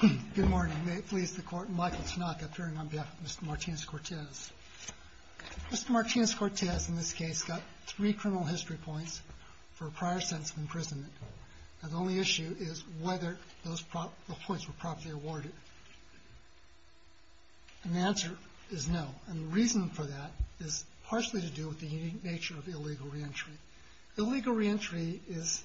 Good morning. May it please the Court, Michael Tanaka appearing on behalf of Mr. Martinez-Cortez. Mr. Martinez-Cortez in this case got three criminal history points for a prior sentence of imprisonment. Now the only issue is whether those points were properly awarded. And the answer is no. And the reason for that is partially to do with the unique nature of illegal reentry. Illegal reentry is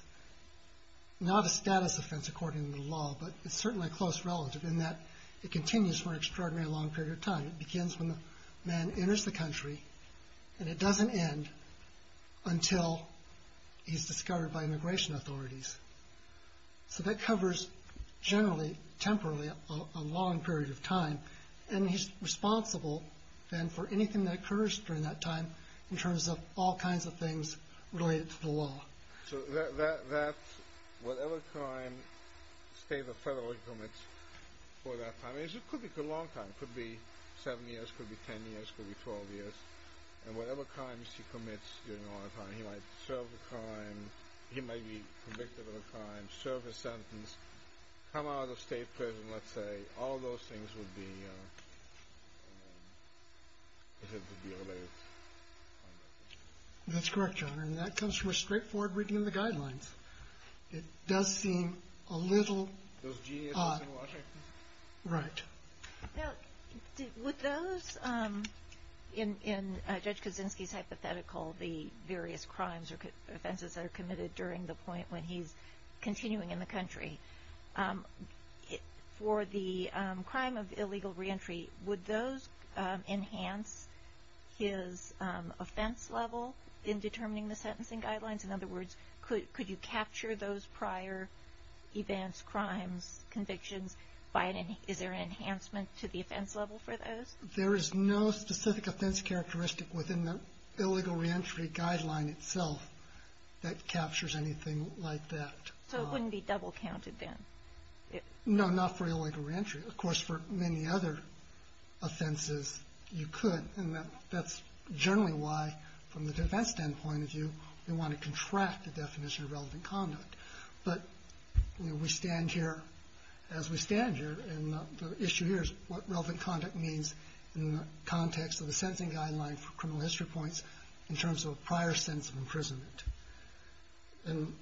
not a status offense according to the law, but it's certainly a close relative in that it continues for an extraordinarily long period of time. It begins when the man enters the country, and it doesn't end until he's discovered by immigration authorities. So that covers generally, temporarily, a long period of time. And he's responsible then for anything that occurs during that time in terms of all kinds of things related to the law. So that's whatever crime the state or federal commits for that time. It could be a long time. It could be 7 years. It could be 10 years. It could be 12 years. And whatever crimes he commits during all that time, he might serve a crime. He might be convicted of a crime, serve a sentence, come out of state prison, let's say. All those things would be related. That's correct, Your Honor. And that comes from a straightforward reading of the guidelines. It does seem a little odd. Those geniuses in Washington? Right. Now, with those, in Judge Kaczynski's hypothetical, the various crimes or offenses that are committed during the point when he's continuing in the country. For the crime of illegal reentry, would those enhance his offense level in determining the sentencing guidelines? In other words, could you capture those prior events, crimes, convictions? Is there an enhancement to the offense level for those? There is no specific offense characteristic within the illegal reentry guideline itself that captures anything like that. So it wouldn't be double counted then? No, not for illegal reentry. Of course, for many other offenses, you could. And that's generally why, from the defense standpoint of view, we want to contract the definition of relevant conduct. But we stand here as we stand here. And the issue here is what relevant conduct means in the context of the sentencing guideline for criminal history points in terms of a prior sense of imprisonment. And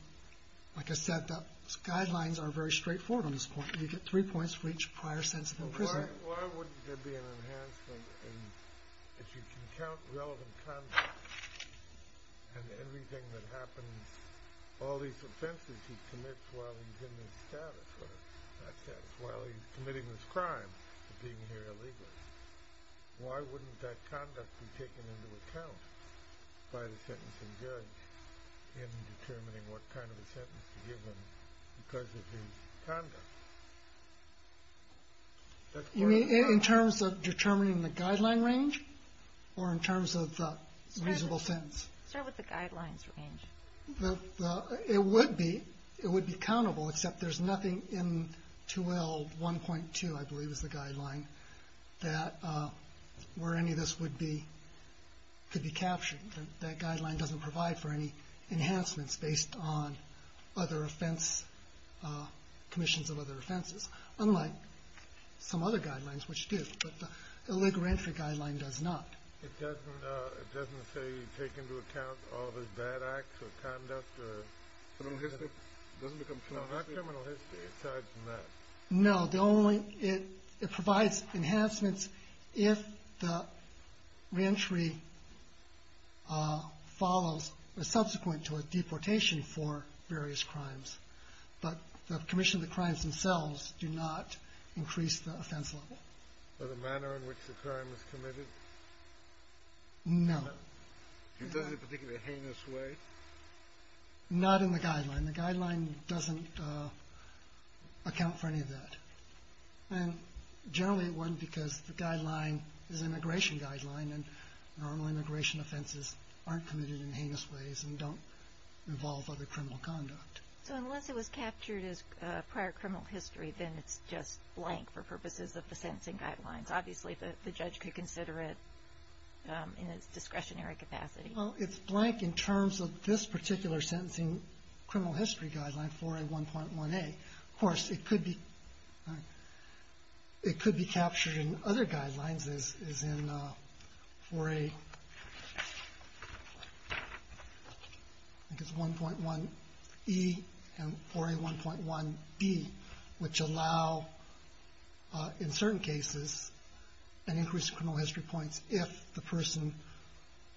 like I said, the guidelines are very straightforward on this point. You get three points for each prior sense of imprisonment. Why wouldn't there be an enhancement if you can count relevant conduct and everything that happens, all these offenses he commits while he's in this status or that status, while he's committing this crime of being here illegally? Why wouldn't that conduct be taken into account by the sentencing judge in determining what kind of a sentence to give him because of his conduct? You mean in terms of determining the guideline range or in terms of the reasonable sentence? Start with the guidelines range. It would be. It would be countable, except there's nothing in 2L1.2, I believe, is the guideline that where any of this could be captured. That guideline doesn't provide for any enhancements based on other offense, commissions of other offenses, unlike some other guidelines, which do. But the illegal reentry guideline does not. It doesn't say you take into account all of his bad acts or conduct or criminal history. It doesn't become criminal history. It's not criminal history aside from that. No. It provides enhancements if the reentry follows subsequent to a deportation for various crimes. But the commission of the crimes themselves do not increase the offense level. By the manner in which the crime was committed? No. It doesn't in a particularly heinous way? Not in the guideline. The guideline doesn't account for any of that. And generally it wouldn't because the guideline is an immigration guideline, and normal immigration offenses aren't committed in heinous ways and don't involve other criminal conduct. So unless it was captured as prior criminal history, then it's just blank for purposes of the sentencing guidelines. Obviously, the judge could consider it in its discretionary capacity. Well, it's blank in terms of this particular sentencing criminal history guideline, 4A1.1a. Of course, it could be captured in other guidelines as in 4A1.1e and 4A1.1b, which allow in certain cases an increase in criminal history points if the person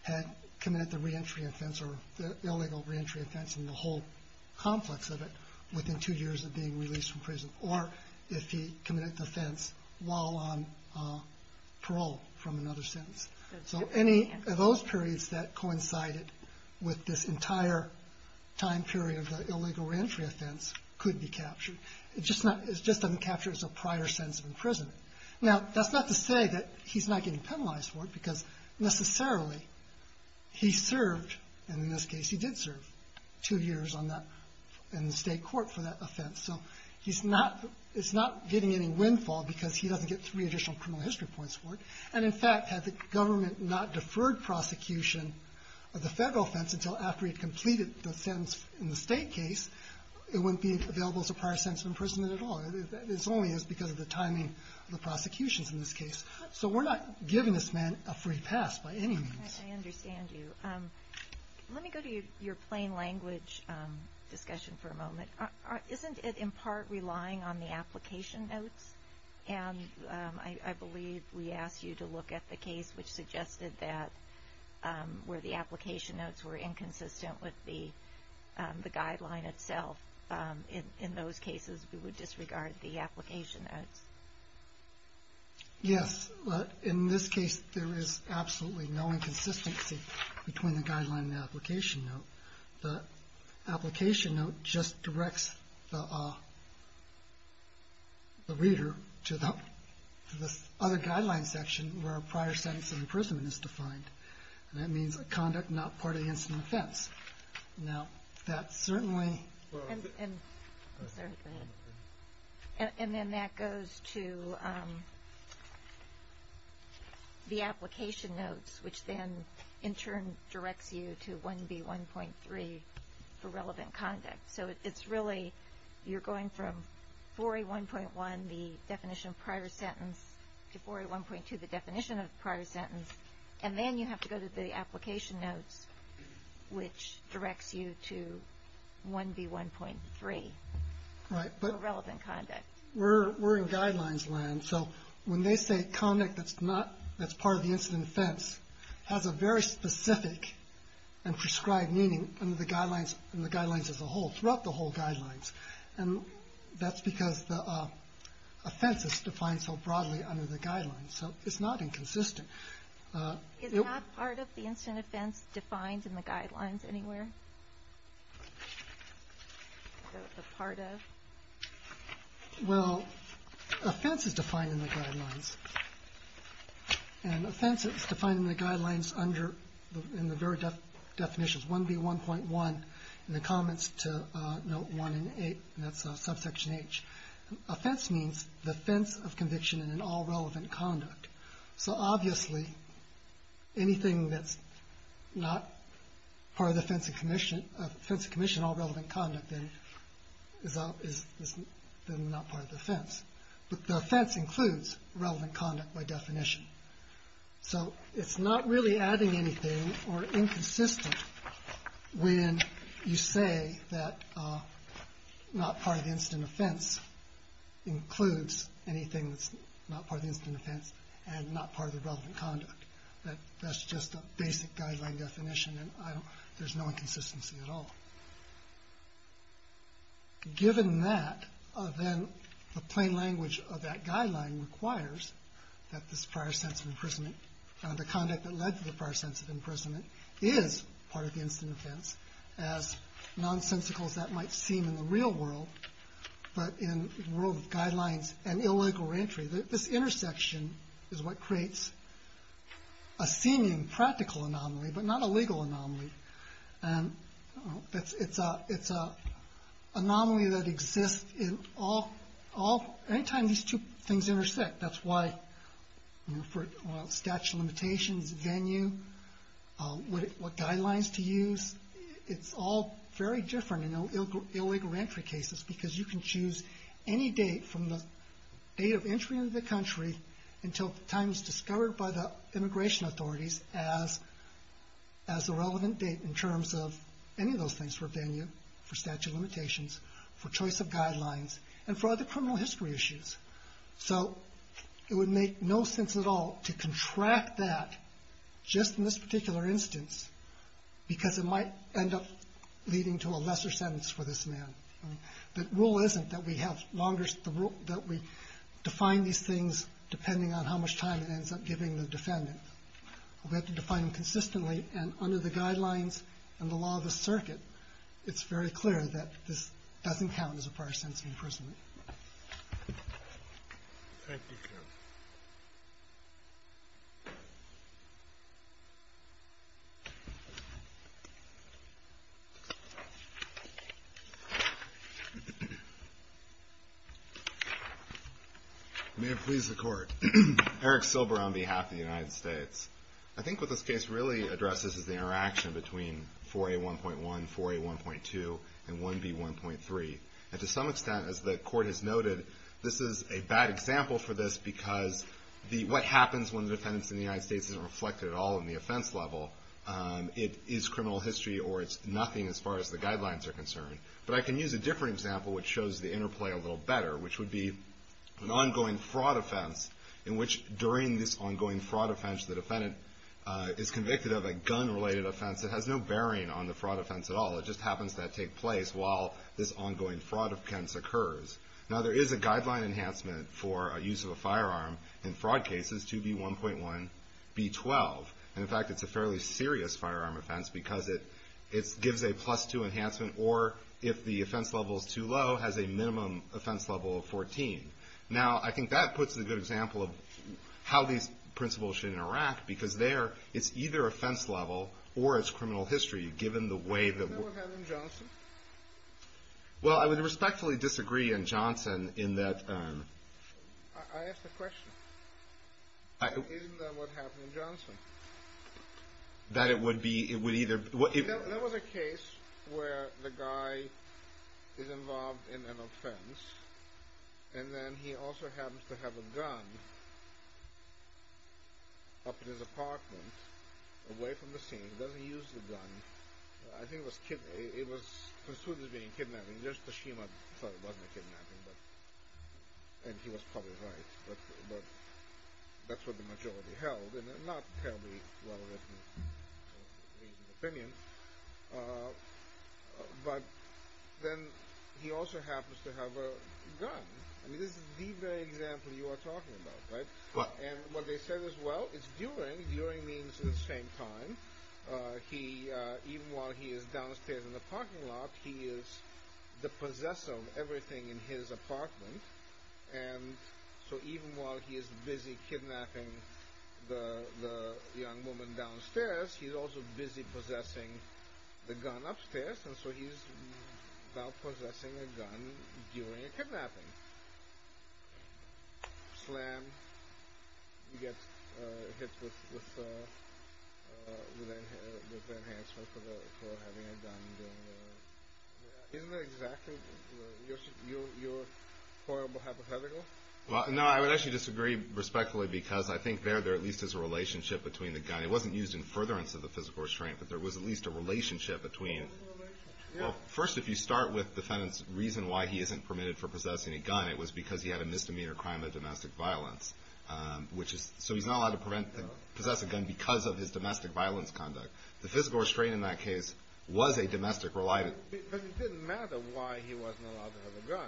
had committed the reentry offense or the illegal reentry offense and the whole complex of it within two years of being released from prison, or if he committed the offense while on parole from another sentence. So any of those periods that coincided with this entire time period of the illegal reentry offense could be captured. It just doesn't capture it as a prior sentence of imprisonment. Now, that's not to say that he's not getting penalized for it because necessarily he served, and in this case he did serve two years in the state court for that offense. So he's not getting any windfall because he doesn't get three additional criminal history points for it. And, in fact, had the government not deferred prosecution of the federal offense until after he had completed the sentence in the state case, it wouldn't be available as a prior sentence of imprisonment at all. It's only because of the timing of the prosecutions in this case. So we're not giving this man a free pass by any means. I understand you. Let me go to your plain language discussion for a moment. Isn't it in part relying on the application notes? And I believe we asked you to look at the case which suggested that where the application notes were inconsistent with the guideline itself, in those cases we would disregard the application notes. Yes. In this case, there is absolutely no inconsistency between the guideline and the application note. The application note just directs the reader to the other guideline section where a prior sentence of imprisonment is defined. And that means a conduct not part of the incident offense. Now, that certainly... And then that goes to the application notes, which then in turn directs you to 1B1.3 for relevant conduct. So it's really you're going from 4A1.1, the definition of prior sentence, to 4A1.2, the definition of prior sentence. And then you have to go to the application notes, which directs you to 1B1.3 for relevant conduct. We're in guidelines land, so when they say conduct that's part of the incident offense, it has a very specific and prescribed meaning in the guidelines as a whole, throughout the whole guidelines. And that's because the offense is defined so broadly under the guidelines. So it's not inconsistent. Is that part of the incident offense defined in the guidelines anywhere? A part of? Well, offense is defined in the guidelines. And offense is defined in the guidelines under the very definitions, 1B1.1, in the comments to note 1 and 8, and that's subsection H. Offense means the offense of conviction in an all-relevant conduct. So obviously anything that's not part of the offense of commission, all-relevant conduct, then is not part of the offense. But the offense includes relevant conduct by definition. So it's not really adding anything or inconsistent when you say that not part of the incident offense, includes anything that's not part of the incident offense and not part of the relevant conduct. That's just a basic guideline definition, and there's no inconsistency at all. Given that, then the plain language of that guideline requires that this prior sense of imprisonment, the conduct that led to the prior sense of imprisonment, is part of the incident offense. As nonsensical as that might seem in the real world, but in the world of guidelines and illegal reentry, this intersection is what creates a seeming practical anomaly, but not a legal anomaly. And it's an anomaly that exists in all, anytime these two things intersect. That's why for statute of limitations, venue, what guidelines to use, it's all very different in illegal reentry cases because you can choose any date, from the date of entry into the country until the time it's discovered by the immigration authorities as the relevant date in terms of any of those things for venue, for statute of limitations, for choice of guidelines, and for other criminal history issues. So it would make no sense at all to contract that just in this particular instance because it might end up leading to a lesser sentence for this man. The rule isn't that we define these things depending on how much time it ends up giving the defendant. We have to define them consistently, and under the guidelines and the law of the circuit, it's very clear that this doesn't count as a prior sentence of imprisonment. Thank you, Ken. May it please the Court. Eric Silber on behalf of the United States. I think what this case really addresses is the interaction between 4A1.1, 4A1.2, and 1B1.3. And to some extent, as the Court has noted, this is a bad example for this because what happens when the defendant is in the United States isn't reflected at all in the offense level. It is criminal history or it's nothing as far as the guidelines are concerned. But I can use a different example which shows the interplay a little better, which would be an ongoing fraud offense in which during this ongoing fraud offense the defendant is convicted of a gun-related offense. It has no bearing on the fraud offense at all. It just happens to take place while this ongoing fraud offense occurs. Now, there is a guideline enhancement for use of a firearm in fraud cases, 2B1.1, B12. And, in fact, it's a fairly serious firearm offense because it gives a plus 2 enhancement or, if the offense level is too low, has a minimum offense level of 14. Now, I think that puts a good example of how these principles should interact because there it's either offense level or it's criminal history given the way that... Is that what happened in Johnson? Well, I would respectfully disagree in Johnson in that... I asked a question. Isn't that what happened in Johnson? That it would be... That was a case where the guy is involved in an offense and then he also happens to have a gun up in his apartment away from the scene. He doesn't use the gun. I think it was considered as being a kidnapping. Just Tashima thought it wasn't a kidnapping, and he was probably right. But that's what the majority held, and not terribly well-written opinion. But then he also happens to have a gun. I mean, this is the very example you are talking about, right? And what they said as well is during, during means the same time, even while he is downstairs in the parking lot, he is the possessor of everything in his apartment. And so even while he is busy kidnapping the young woman downstairs, he is also busy possessing the gun upstairs, and so he is now possessing a gun during a kidnapping. Slam, you get hit with an enhancement for having a gun during the... Isn't that exactly your horrible hypothetical? No, I would actually disagree respectfully, because I think there at least is a relationship between the gun. It wasn't used in furtherance of the physical restraint, but there was at least a relationship between... What was the relationship? Well, first if you start with defendant's reason why he isn't permitted for possessing a gun, it was because he had a misdemeanor crime of domestic violence, which is, so he is not allowed to possess a gun because of his domestic violence conduct. The physical restraint in that case was a domestic reliance. But it didn't matter why he wasn't allowed to have a gun.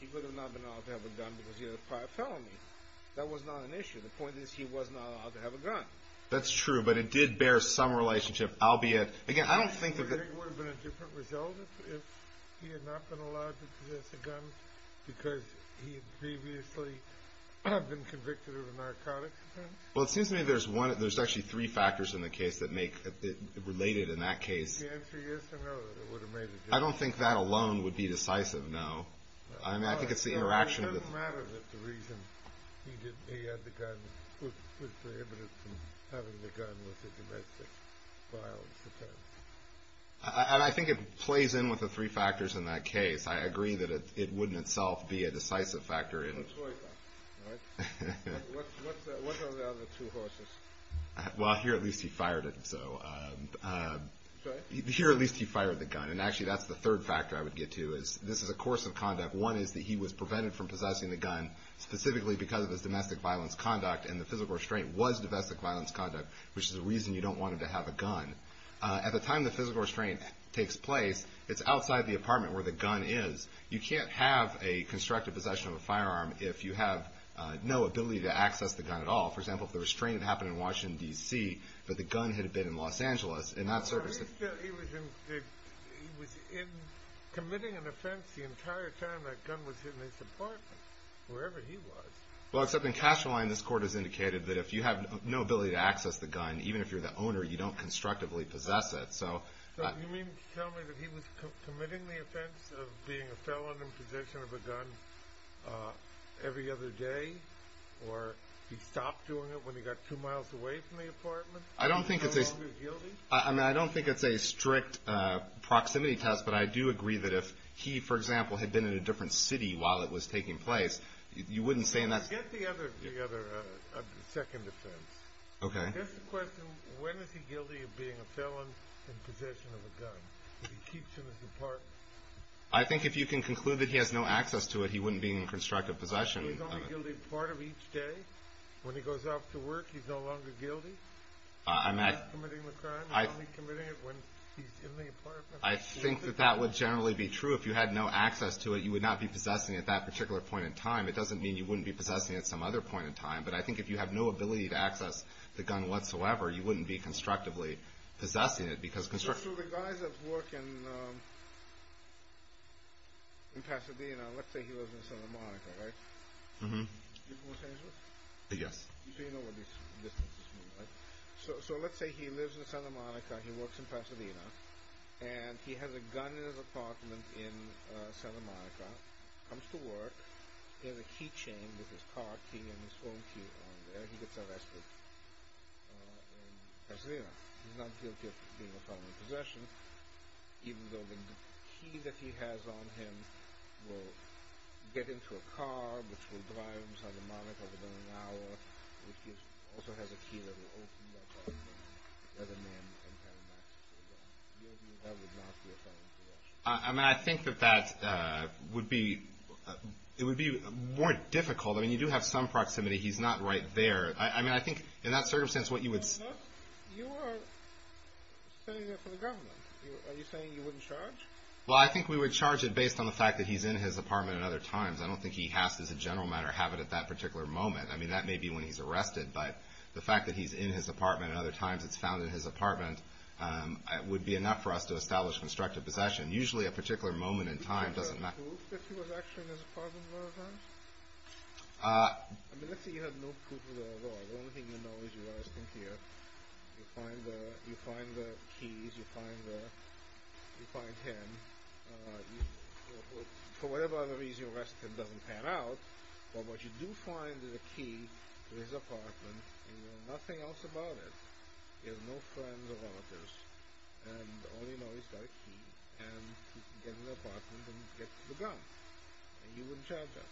He would have not been allowed to have a gun because he had a prior felony. That was not an issue. The point is he was not allowed to have a gun. That's true, but it did bear some relationship, albeit... Again, I don't think that... Would it have been a different result if he had not been allowed to possess a gun because he had previously been convicted of a narcotic offense? Well, it seems to me there's one... related in that case. The answer is no, that it would have made a difference. I don't think that alone would be decisive, no. I think it's the interaction... It doesn't matter that the reason he had the gun was prohibited from having the gun was a domestic violence offense. I think it plays in with the three factors in that case. I agree that it wouldn't itself be a decisive factor in... It's a toy gun, right? What are the other two horses? Well, here at least he fired it, so... Here at least he fired the gun, and actually that's the third factor I would get to. This is a course of conduct. One is that he was prevented from possessing the gun specifically because of his domestic violence conduct, and the physical restraint was domestic violence conduct, which is the reason you don't want him to have a gun. At the time the physical restraint takes place, it's outside the apartment where the gun is. You can't have a constructive possession of a firearm if you have no ability to access the gun at all. For example, if the restraint happened in Washington, D.C., but the gun had been in Los Angeles, in that circumstance... I think that he was committing an offense the entire time that gun was in his apartment, wherever he was. Well, except in Casualine this court has indicated that if you have no ability to access the gun, even if you're the owner, you don't constructively possess it. You mean to tell me that he was committing the offense of being a felon in possession of a gun every other day, or he stopped doing it when he got two miles away from the apartment? I don't think it's a strict proximity test, but I do agree that if he, for example, had been in a different city while it was taking place, you wouldn't say... Get the other second offense. Okay. That's the question. When is he guilty of being a felon in possession of a gun? If he keeps it in his apartment. I think if you can conclude that he has no access to it, he wouldn't be in constructive possession. So he's only guilty part of each day? When he goes off to work, he's no longer guilty? He's not committing the crime? He's only committing it when he's in the apartment? I think that that would generally be true. If you had no access to it, you would not be possessing it at that particular point in time. It doesn't mean you wouldn't be possessing it at some other point in time, but I think if you have no ability to access the gun whatsoever, you wouldn't be constructively possessing it because... So the guys that work in Pasadena, let's say he lives in Santa Monica, right? Mm-hmm. You've been to Los Angeles? Yes. So you know what these distances mean, right? So let's say he lives in Santa Monica, he works in Pasadena, and he has a gun in his apartment in Santa Monica, comes to work, he has a key chain with his car key and his phone key on there, he gets arrested in Pasadena. He's not guilty of being a felon in possession, even though the key that he has on him will get into a car, which will drive him to Santa Monica within an hour, which also has a key that will open that door, and the other man can have access to the gun. That would not be a felon to arrest. I mean, I think that that would be more difficult. I mean, you do have some proximity. He's not right there. I mean, I think in that circumstance what you would... But you are standing there for the government. Are you saying you wouldn't charge? Well, I think we would charge him based on the fact that he's in his apartment at other times. I don't think he has to, as a general matter, have it at that particular moment. I mean, that may be when he's arrested, but the fact that he's in his apartment at other times, it's found in his apartment, would be enough for us to establish constructive possession. Usually a particular moment in time doesn't matter. Do you think you would have proof I mean, let's say you had no proof of that at all. The only thing you know is you're arresting here. You find the keys. You find him. For whatever other reason, you arrest him. It doesn't pan out. But what you do find is a key to his apartment, and you know nothing else about it. He has no friends or relatives. And all you know is he's got a key, and he can get in the apartment and get the gun. And you wouldn't charge him.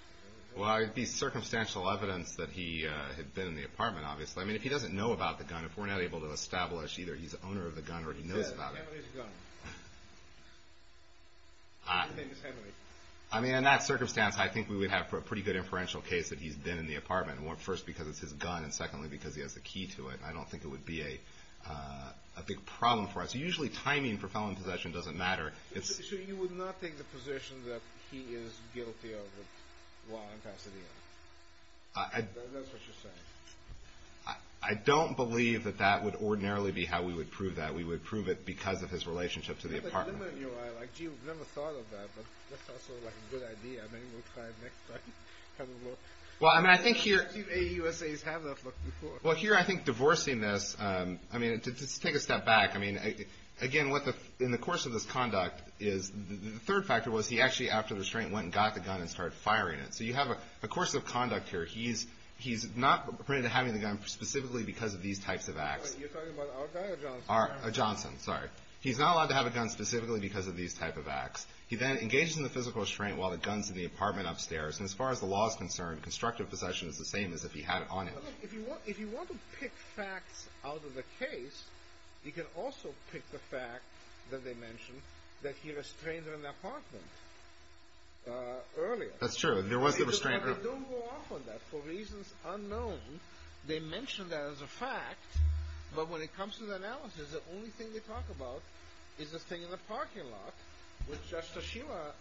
Well, it would be circumstantial evidence that he had been in the apartment, obviously. I mean, if he doesn't know about the gun, if we're not able to establish either he's the owner of the gun or he knows about it. Yeah, Henry's a gunner. I think it's Henry. I mean, in that circumstance, I think we would have a pretty good inferential case that he's been in the apartment. First, because it's his gun, and secondly, because he has the key to it. I don't think it would be a big problem for us. Usually timing for felon possession doesn't matter. So you would not take the position that he is guilty of the law in Pasadena. That's what you're saying. I don't believe that that would ordinarily be how we would prove that. We would prove it because of his relationship to the apartment. I've never thought of that, but that sounds sort of like a good idea. Maybe we'll try it next time. Well, I mean, I think here... AUSAs have that look before. Well, here, I think divorcing this, I mean, to take a step back, I mean, again, in the course of this conduct, the third factor was he actually, after the restraint, went and got the gun and started firing it. So you have a course of conduct here. He's not printed to having the gun specifically because of these types of acts. You're talking about our guy or Johnson? Johnson, sorry. He's not allowed to have a gun specifically because of these type of acts. He then engages in the physical restraint while the gun's in the apartment upstairs, and as far as the law is concerned, constructive possession is the same as if he had it on him. If you want to pick facts out of the case, you can also pick the fact that they mentioned that he restrained her in the apartment earlier. That's true. There was the restraint earlier. But they don't go off on that. For reasons unknown, they mention that as a fact, but when it comes to the analysis, the only thing they talk about is this thing in the parking lot, which just as Sheila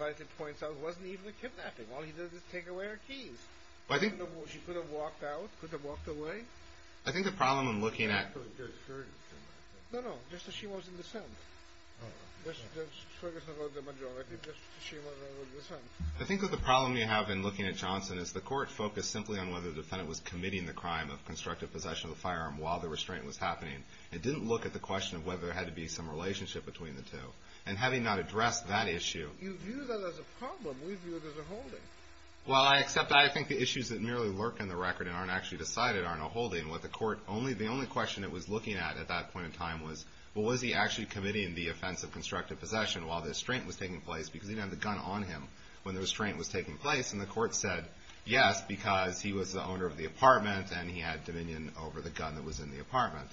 rightly points out, wasn't even a kidnapping. All he did was take away her keys. Well, I think... She could have walked out, could have walked away. I think the problem in looking at... I don't think they're hurting him. No, no. Just as she was in the cell. Just focus on the majority. Just as she was in the cell. I think that the problem you have in looking at Johnson is the court focused simply on whether the defendant was committing the crime of constructive possession of the firearm while the restraint was happening. It didn't look at the question of whether there had to be some relationship between the two. And having not addressed that issue... You view that as a problem. We view it as a holding. Well, I accept that. I think the issues that merely lurk in the record and aren't actually decided aren't a holding. The only question it was looking at at that point in time was, well, was he actually committing the offense of constructive possession while the restraint was taking place? Because he didn't have the gun on him when the restraint was taking place. And the court said, yes, because he was the owner of the apartment and he had dominion over the gun that was in the apartment.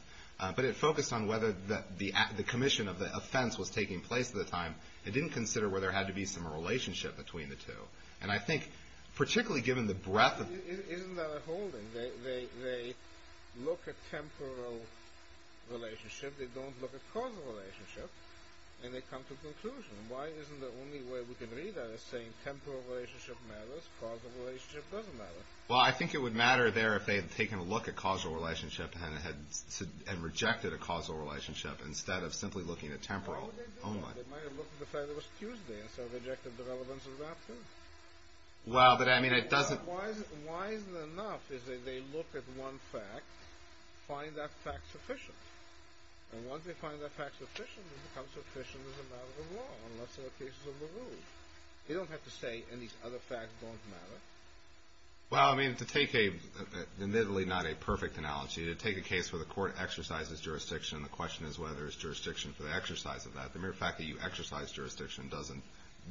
But it focused on whether the commission of the offense was taking place at the time. It didn't consider whether there had to be some relationship between the two. And I think, particularly given the breadth of... Isn't that a holding? They look at temporal relationship. They don't look at causal relationship. And they come to a conclusion. Why isn't the only way we can read that is saying temporal relationship matters, causal relationship doesn't matter? Well, I think it would matter there if they had taken a look at causal relationship and rejected a causal relationship instead of simply looking at temporal only. How would they do that? They might have looked at the fact it was Tuesday and so rejected the relevance of that too. Well, but I mean, it doesn't... Why isn't it enough? Is that they look at one fact, find that fact sufficient. And once they find that fact sufficient, it becomes sufficient as a matter of the law unless there are cases of the rule. They don't have to say, and these other facts don't matter. Well, I mean, to take a... Admittedly not a perfect analogy. To take a case where the court exercises jurisdiction and the question is whether there's jurisdiction for the exercise of that, the mere fact that you exercise jurisdiction doesn't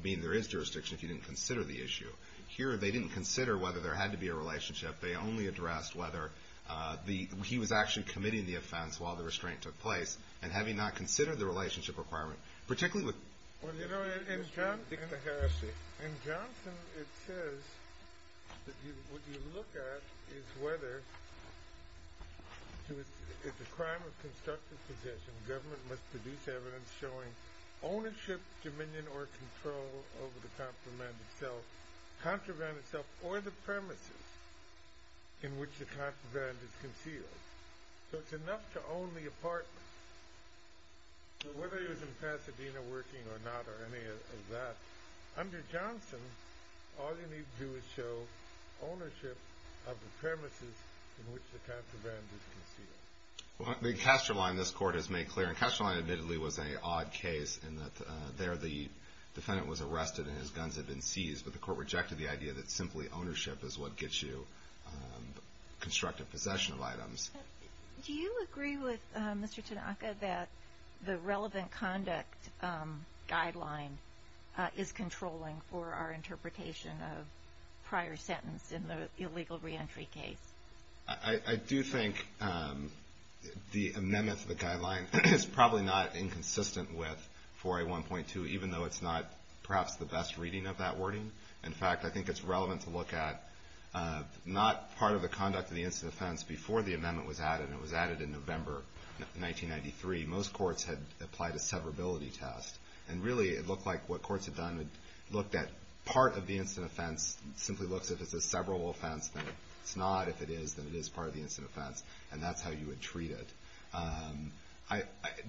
mean there is jurisdiction if you didn't consider the issue. Here, they didn't consider whether there had to be a relationship. They only addressed whether he was actually committing the offense while the restraint took place and having not considered the relationship requirement, particularly with... Well, you know, and Johnson... And Johnson, it says that what you look at is whether if the crime of constructive possession, government must produce evidence showing ownership, dominion, or control over the contraband itself or the premises in which the contraband is concealed. So it's enough to own the apartment. So whether he was in Pasadena working or not or any of that, under Johnson, all you need to do is show ownership of the premises in which the contraband is concealed. Well, I mean, Castroline, this court has made clear, and Castroline admittedly was an odd case in that there the defendant was arrested and his guns had been seized, but the court rejected the idea that simply ownership is what gets you constructive possession of items. Do you agree with Mr. Tanaka that the relevant conduct guideline is controlling for our interpretation of prior sentence in the illegal reentry case? I do think the amendment to the guideline is probably not inconsistent with 4A1.2, even though it's not perhaps the best reading of that wording. In fact, I think it's relevant to look at not part of the conduct of the instant offense before the amendment was added, and it was added in November 1993. Most courts had applied a severability test, and really it looked like what courts had done had looked at part of the instant offense, simply looks at if it's a severable offense, then it's not. If it is, then it is part of the instant offense, and that's how you would treat it.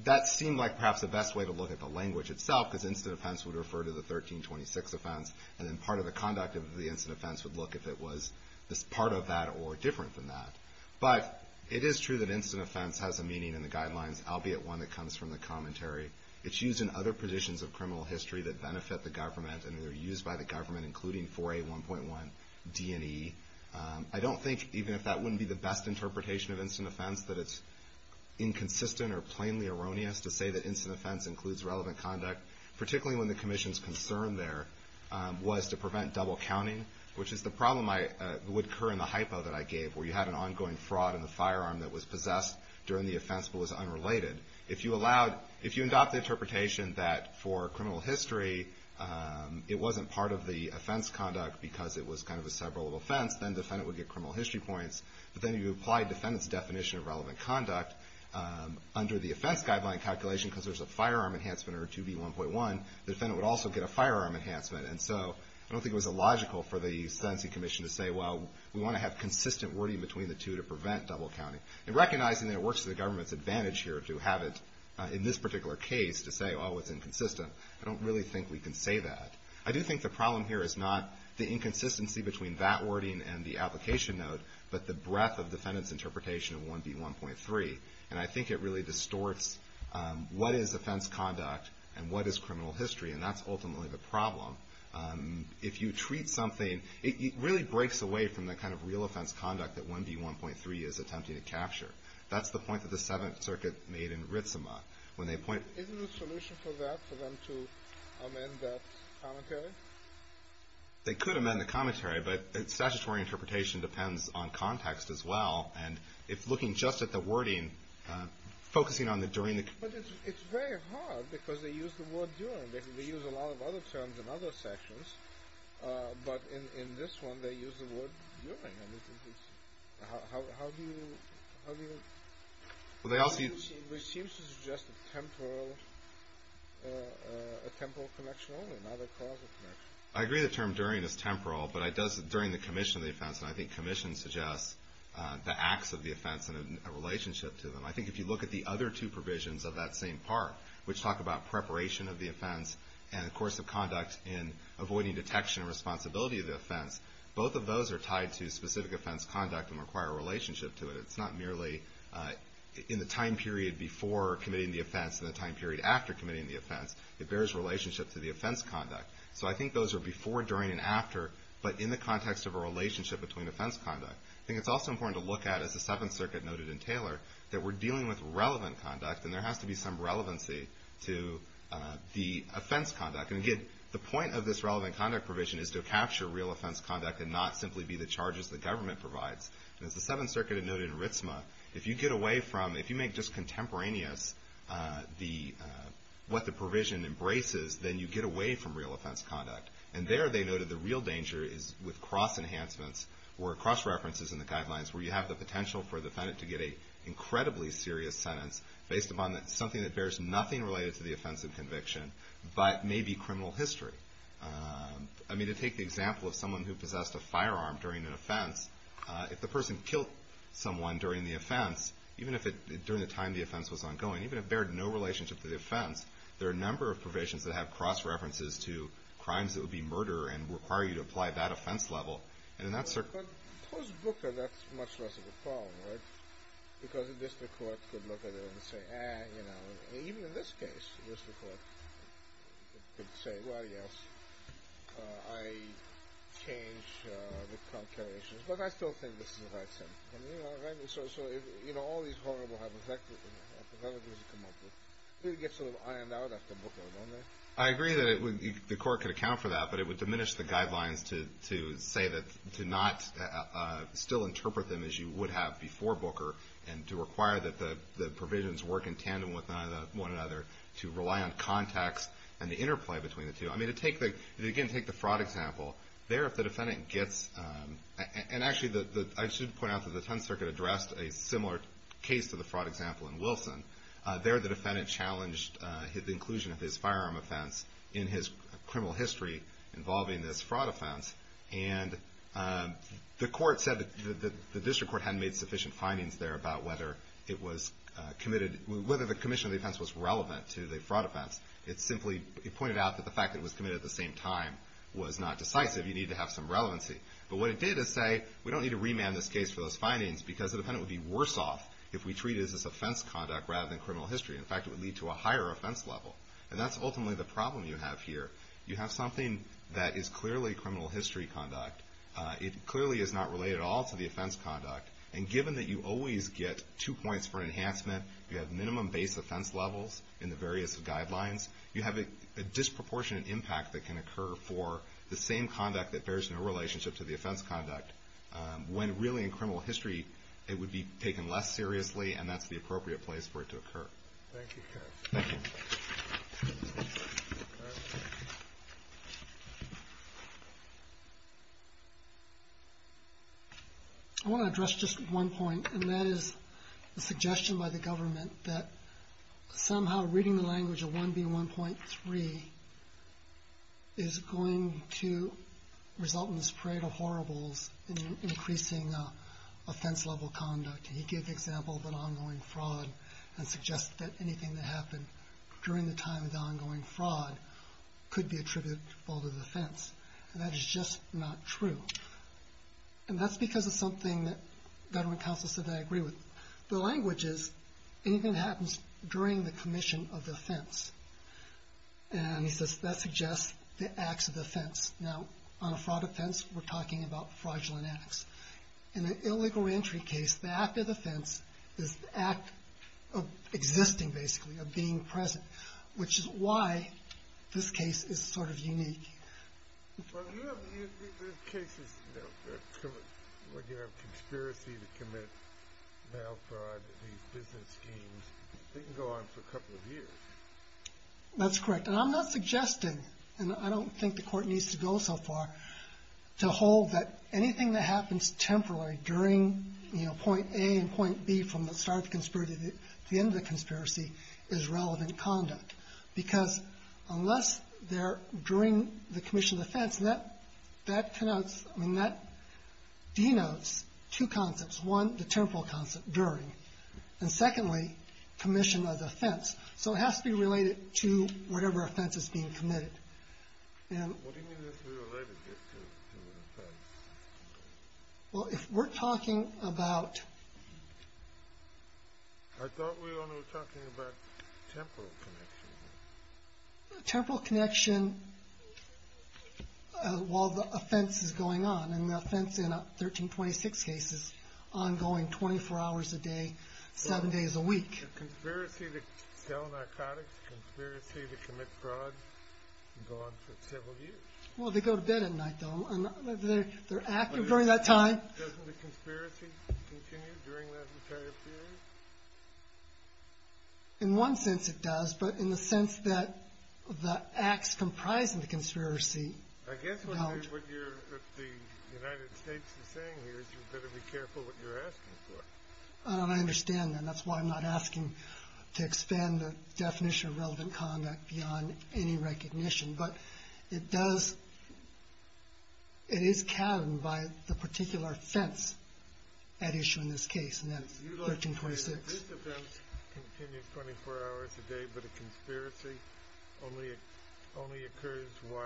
That seemed like perhaps the best way to look at the language itself, because instant offense would refer to the 1326 offense, and then part of the conduct of the instant offense would look if it was part of that or different than that. But it is true that instant offense has a meaning in the guidelines, albeit one that comes from the commentary. It's used in other positions of criminal history that benefit the government and are used by the government, including 4A1.1 D&E. I don't think, even if that wouldn't be the best interpretation of instant offense, that it's inconsistent or plainly erroneous to say that instant offense includes relevant conduct, particularly when the commission is concerned there was to prevent double counting, which is the problem that would occur in the hypo that I gave where you had an ongoing fraud in the firearm that was possessed during the offense but was unrelated. If you allowed, if you adopt the interpretation that for criminal history it wasn't part of the offense conduct because it was kind of a several-level offense, then the defendant would get criminal history points. But then you apply the defendant's definition of relevant conduct under the offense guideline calculation because there's a firearm enhancement under 2B1.1, the defendant would also get a firearm enhancement. And so I don't think it was illogical for the sentencing commission to say, well, we want to have consistent wording between the two to prevent double counting. And recognizing that it works to the government's advantage here to have it in this particular case to say, oh, it's inconsistent, I don't really think we can say that. I do think the problem here is not the inconsistency between that wording and the application note but the breadth of the defendant's interpretation of 1B1.3. And I think it really distorts what is offense conduct and what is criminal history. And that's ultimately the problem. If you treat something, it really breaks away from the kind of real offense conduct that 1B1.3 is attempting to capture. That's the point that the Seventh Circuit made in Ritzema. When they point... Isn't there a solution for that, for them to amend that commentary? They could amend the commentary, but statutory interpretation depends on context as well. And if looking just at the wording, focusing on the during the... But it's very hard because they use the word during. They use a lot of other words during the sentence and other terms in other sections, but in this one they use the word during. How do you... How do you... Well, they also... It seems to suggest a temporal... a temporal connection only, not a causal connection. I agree the term during is temporal, but it does... during the commission of the offense, and I think commission suggests the acts of the offense and a relationship to them. I think if you look at the other two provisions of that same part, which talk about preparation of the offense and, of course, the commission of the offense and its role and conduct in avoiding detection and responsibility of the offense, both of those are tied to specific offense conduct and require a relationship to it. It's not merely in the time period before committing the offense and the time period after committing the offense. It bears relationship to the offense conduct. So I think those are before, during, and after, but in the context of a relationship between offense conduct. I think it's also important to look at, as the Seventh Circuit noted in Taylor, that we're dealing with relevant conduct and there has to be some relevancy to the offense conduct. And again, the point of this relevant conduct provision is to capture real offense conduct and not simply be the charges the government provides. And as the Seventh Circuit had noted in Ritzma, if you get away from, if you make just contemporaneous what the provision embraces, then you get away from real offense conduct. And there, they noted, the real danger is with cross-enhancements or cross-references in the guidelines where you have the potential for the defendant to get an incredibly serious sentence based upon something that bears nothing related to the offense and conviction but may be criminal history. I mean, to take the example of someone who possessed a firearm during an offense, if the person killed someone during the offense, even if it, during the time the offense was ongoing, even if it bared no relationship to the offense, there are a number of provisions that have cross-references to crimes that would be murder and require you to apply that offense level. And in that circumstance... But, the District Court could look at it and say, ah, you know, even in this case, the District Court could say, well, yes, I changed the calculations, but I still think this is a right sentence. I mean, you know, right? So, you know, all these horrible hypotheticals you come up with really get sort of ironed out after Booker, don't they? I agree that the Court could account for that, but it would diminish the guidelines to say that, to not still interpret them as you would have before Booker and to require that the provisions work in tandem with one another to rely on context and the interplay between the two. I mean, again, take the fraud example. There, if the defendant gets... And actually, I should point out that the 10th Circuit addressed a similar case to the fraud example in Wilson. There, the defendant challenged the inclusion of his firearm offense in his criminal history involving this fraud offense and the Court said that the District Court hadn't made sufficient findings there about whether it was committed... Whether the commission of the offense was relevant to the fraud offense. It simply pointed out that the fact that it was committed at the same time was not decisive. You need to have some relevancy. But what it did is say, we don't need to remand this case for those findings because the defendant would be worse off if we treat it as this offense conduct rather than criminal history. In fact, it would lead to a higher offense level. And that's ultimately the problem you have here. You have something that is clearly criminal history conduct. It clearly is not related at all to the offense conduct. And given that you always get two points for enhancement, you have minimum base offense levels in the various guidelines, you have a disproportionate impact that can occur for the same conduct that bears no relationship to the offense conduct when really, in criminal history, it would be taken less seriously and that's the appropriate place for it to occur. Thank you. I want to address just one point and that is the suggestion by the government that somehow reading the language of 1B1.3 is going to result in this in increasing offense level conduct. He gave the example of an ongoing fraud and suggested that this would be the case that anything that happened during the time of the ongoing fraud could be attributed to the fault of the offense. And that is just not true. And that's because it's something that government counsel said they agree with. The language is anything that happens during the commission of the offense and he says that suggests the acts of the offense. Now, on a fraud offense, we're talking about fraudulent acts. In an illegal entry case, the act of the offense is the act of existing, basically, of being present. Which is why this case is sort of unique. Well, you have cases where you have conspiracy to commit mail fraud and these business schemes. They can go on for a couple of years. That's correct. And I'm not suggesting and I don't think the court needs to go so far to hold that anything that happens temporarily during, you know, point A and point B from the start of the conspiracy to the end of the conspiracy is relevant conduct. Because unless they're during the commission of the offense, that denotes two concepts. One, the temporal concept, during. And secondly, commission of the offense. So it has to be related to whatever offense is being committed. What do you mean it has to be related to the offense? Well, if we're talking about I thought we were only talking about temporal connection. Temporal connection while the offense is going on. And the offense in a 1326 case is ongoing 24 hours a day, seven days a week. A conspiracy to sell narcotics, a conspiracy to commit fraud for several years. Well, they go to bed at night, though. They're active during that time. Doesn't the conspiracy continue? Well, the conspiracy does continue during that entire period? In one sense it does, but in the sense that the acts comprising the conspiracy don't. I guess what the United States is saying here is you better be careful what you're asking for. I understand that. That's why I'm not asking to expand the definition of relevant conduct beyond any recognition, but it does, it is canon by the particular offense at issue in this case and that's 1326. This offense continues 24 hours a day, but a conspiracy only occurs while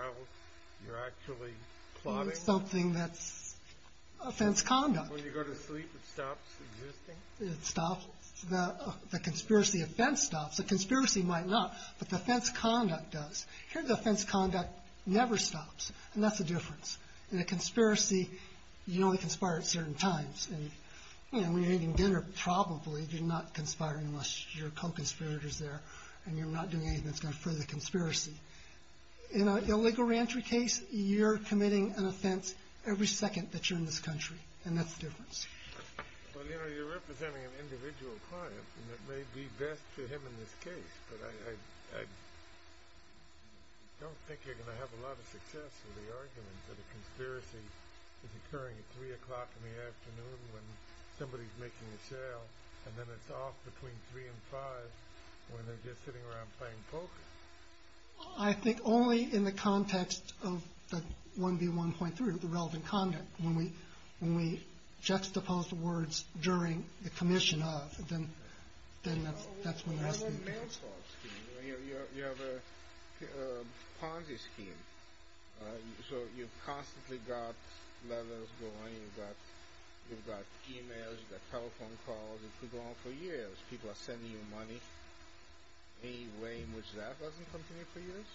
you're actually plotting? Something that's offense conduct. When you go to sleep it stops existing? It stops. The conspiracy offense stops. A conspiracy might not, but the offense conduct does. Here the offense conduct never stops and that's the difference. In a conspiracy you only conspire at certain times and when you're eating dinner probably you're not conspiring unless your co-conspirator is there and you're not doing anything that's going to further the conspiracy. In an illegal reentry case you're committing an offense every second that you're in this country and that's the difference. You're representing an individual client and it may be best for him in this case, but I don't think you're going to have a lot of success with the argument that a conspiracy is occurring at 3 o'clock in the afternoon when somebody's making a sale and then it's off between 3 and 5 when they're just sitting around playing poker. I think only in the context of the 1B1.3 the relevant conduct. When we juxtapose the words during the commission of then that's when the rest of the... You have a Ponzi scheme so you've constantly got letters going you've got e-mails you've got telephone calls you could go on for years people are sending you money any way in which that doesn't come to me for years.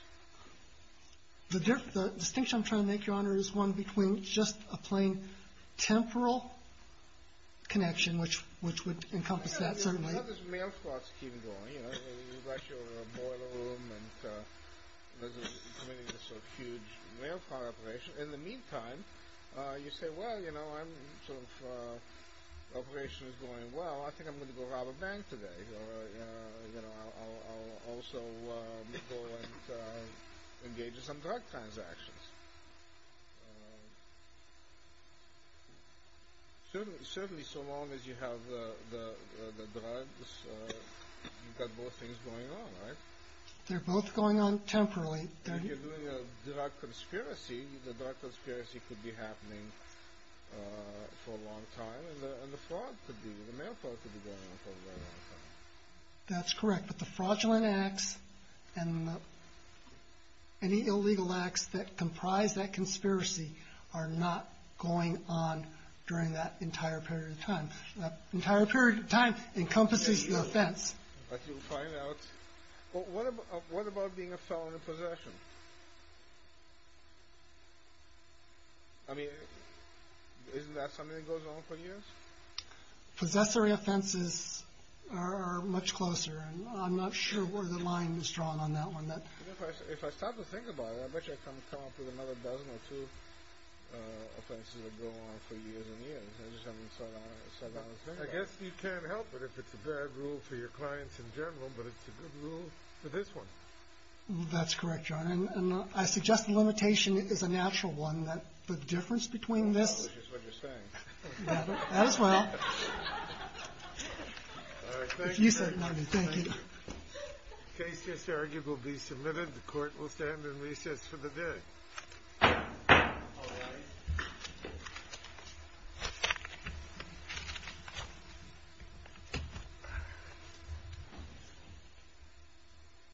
The distinction I'm trying to make your one between just a plain temporal connection which would encompass that certainly. You've got this mail fraud scheme going you've got your boiler room and you're committing this huge mail fraud operation in the meantime you say well you know I'm sort of operation is going well I think I'm going to go rob a bank today or I'll also go and engage in some drug transactions. Certainly so long as you have the drugs you've got both things going on right? They're both going on for a long time and the fraud could be the mail fraud could be going on for a long time. That's correct but the fraudulent acts and any illegal acts that comprise that conspiracy are not going on during that entire period of time. That entire period of time encompasses the offense. But you'll find out what happens of time. But what about being a felon in possession? I mean isn't that something that goes on for years? Possessory offenses are much closer and I'm not sure where the line is drawn on that one. If I start to think about it I bet I can come up with another dozen or two offenses that go on for years and years. I guess you can't help it if it's a bad rule for your clients in general but it's a good rule for this one. That's correct John and I suggest the limitation is a natural one that the difference between this case will be submitted. The court will stand in recess for the day.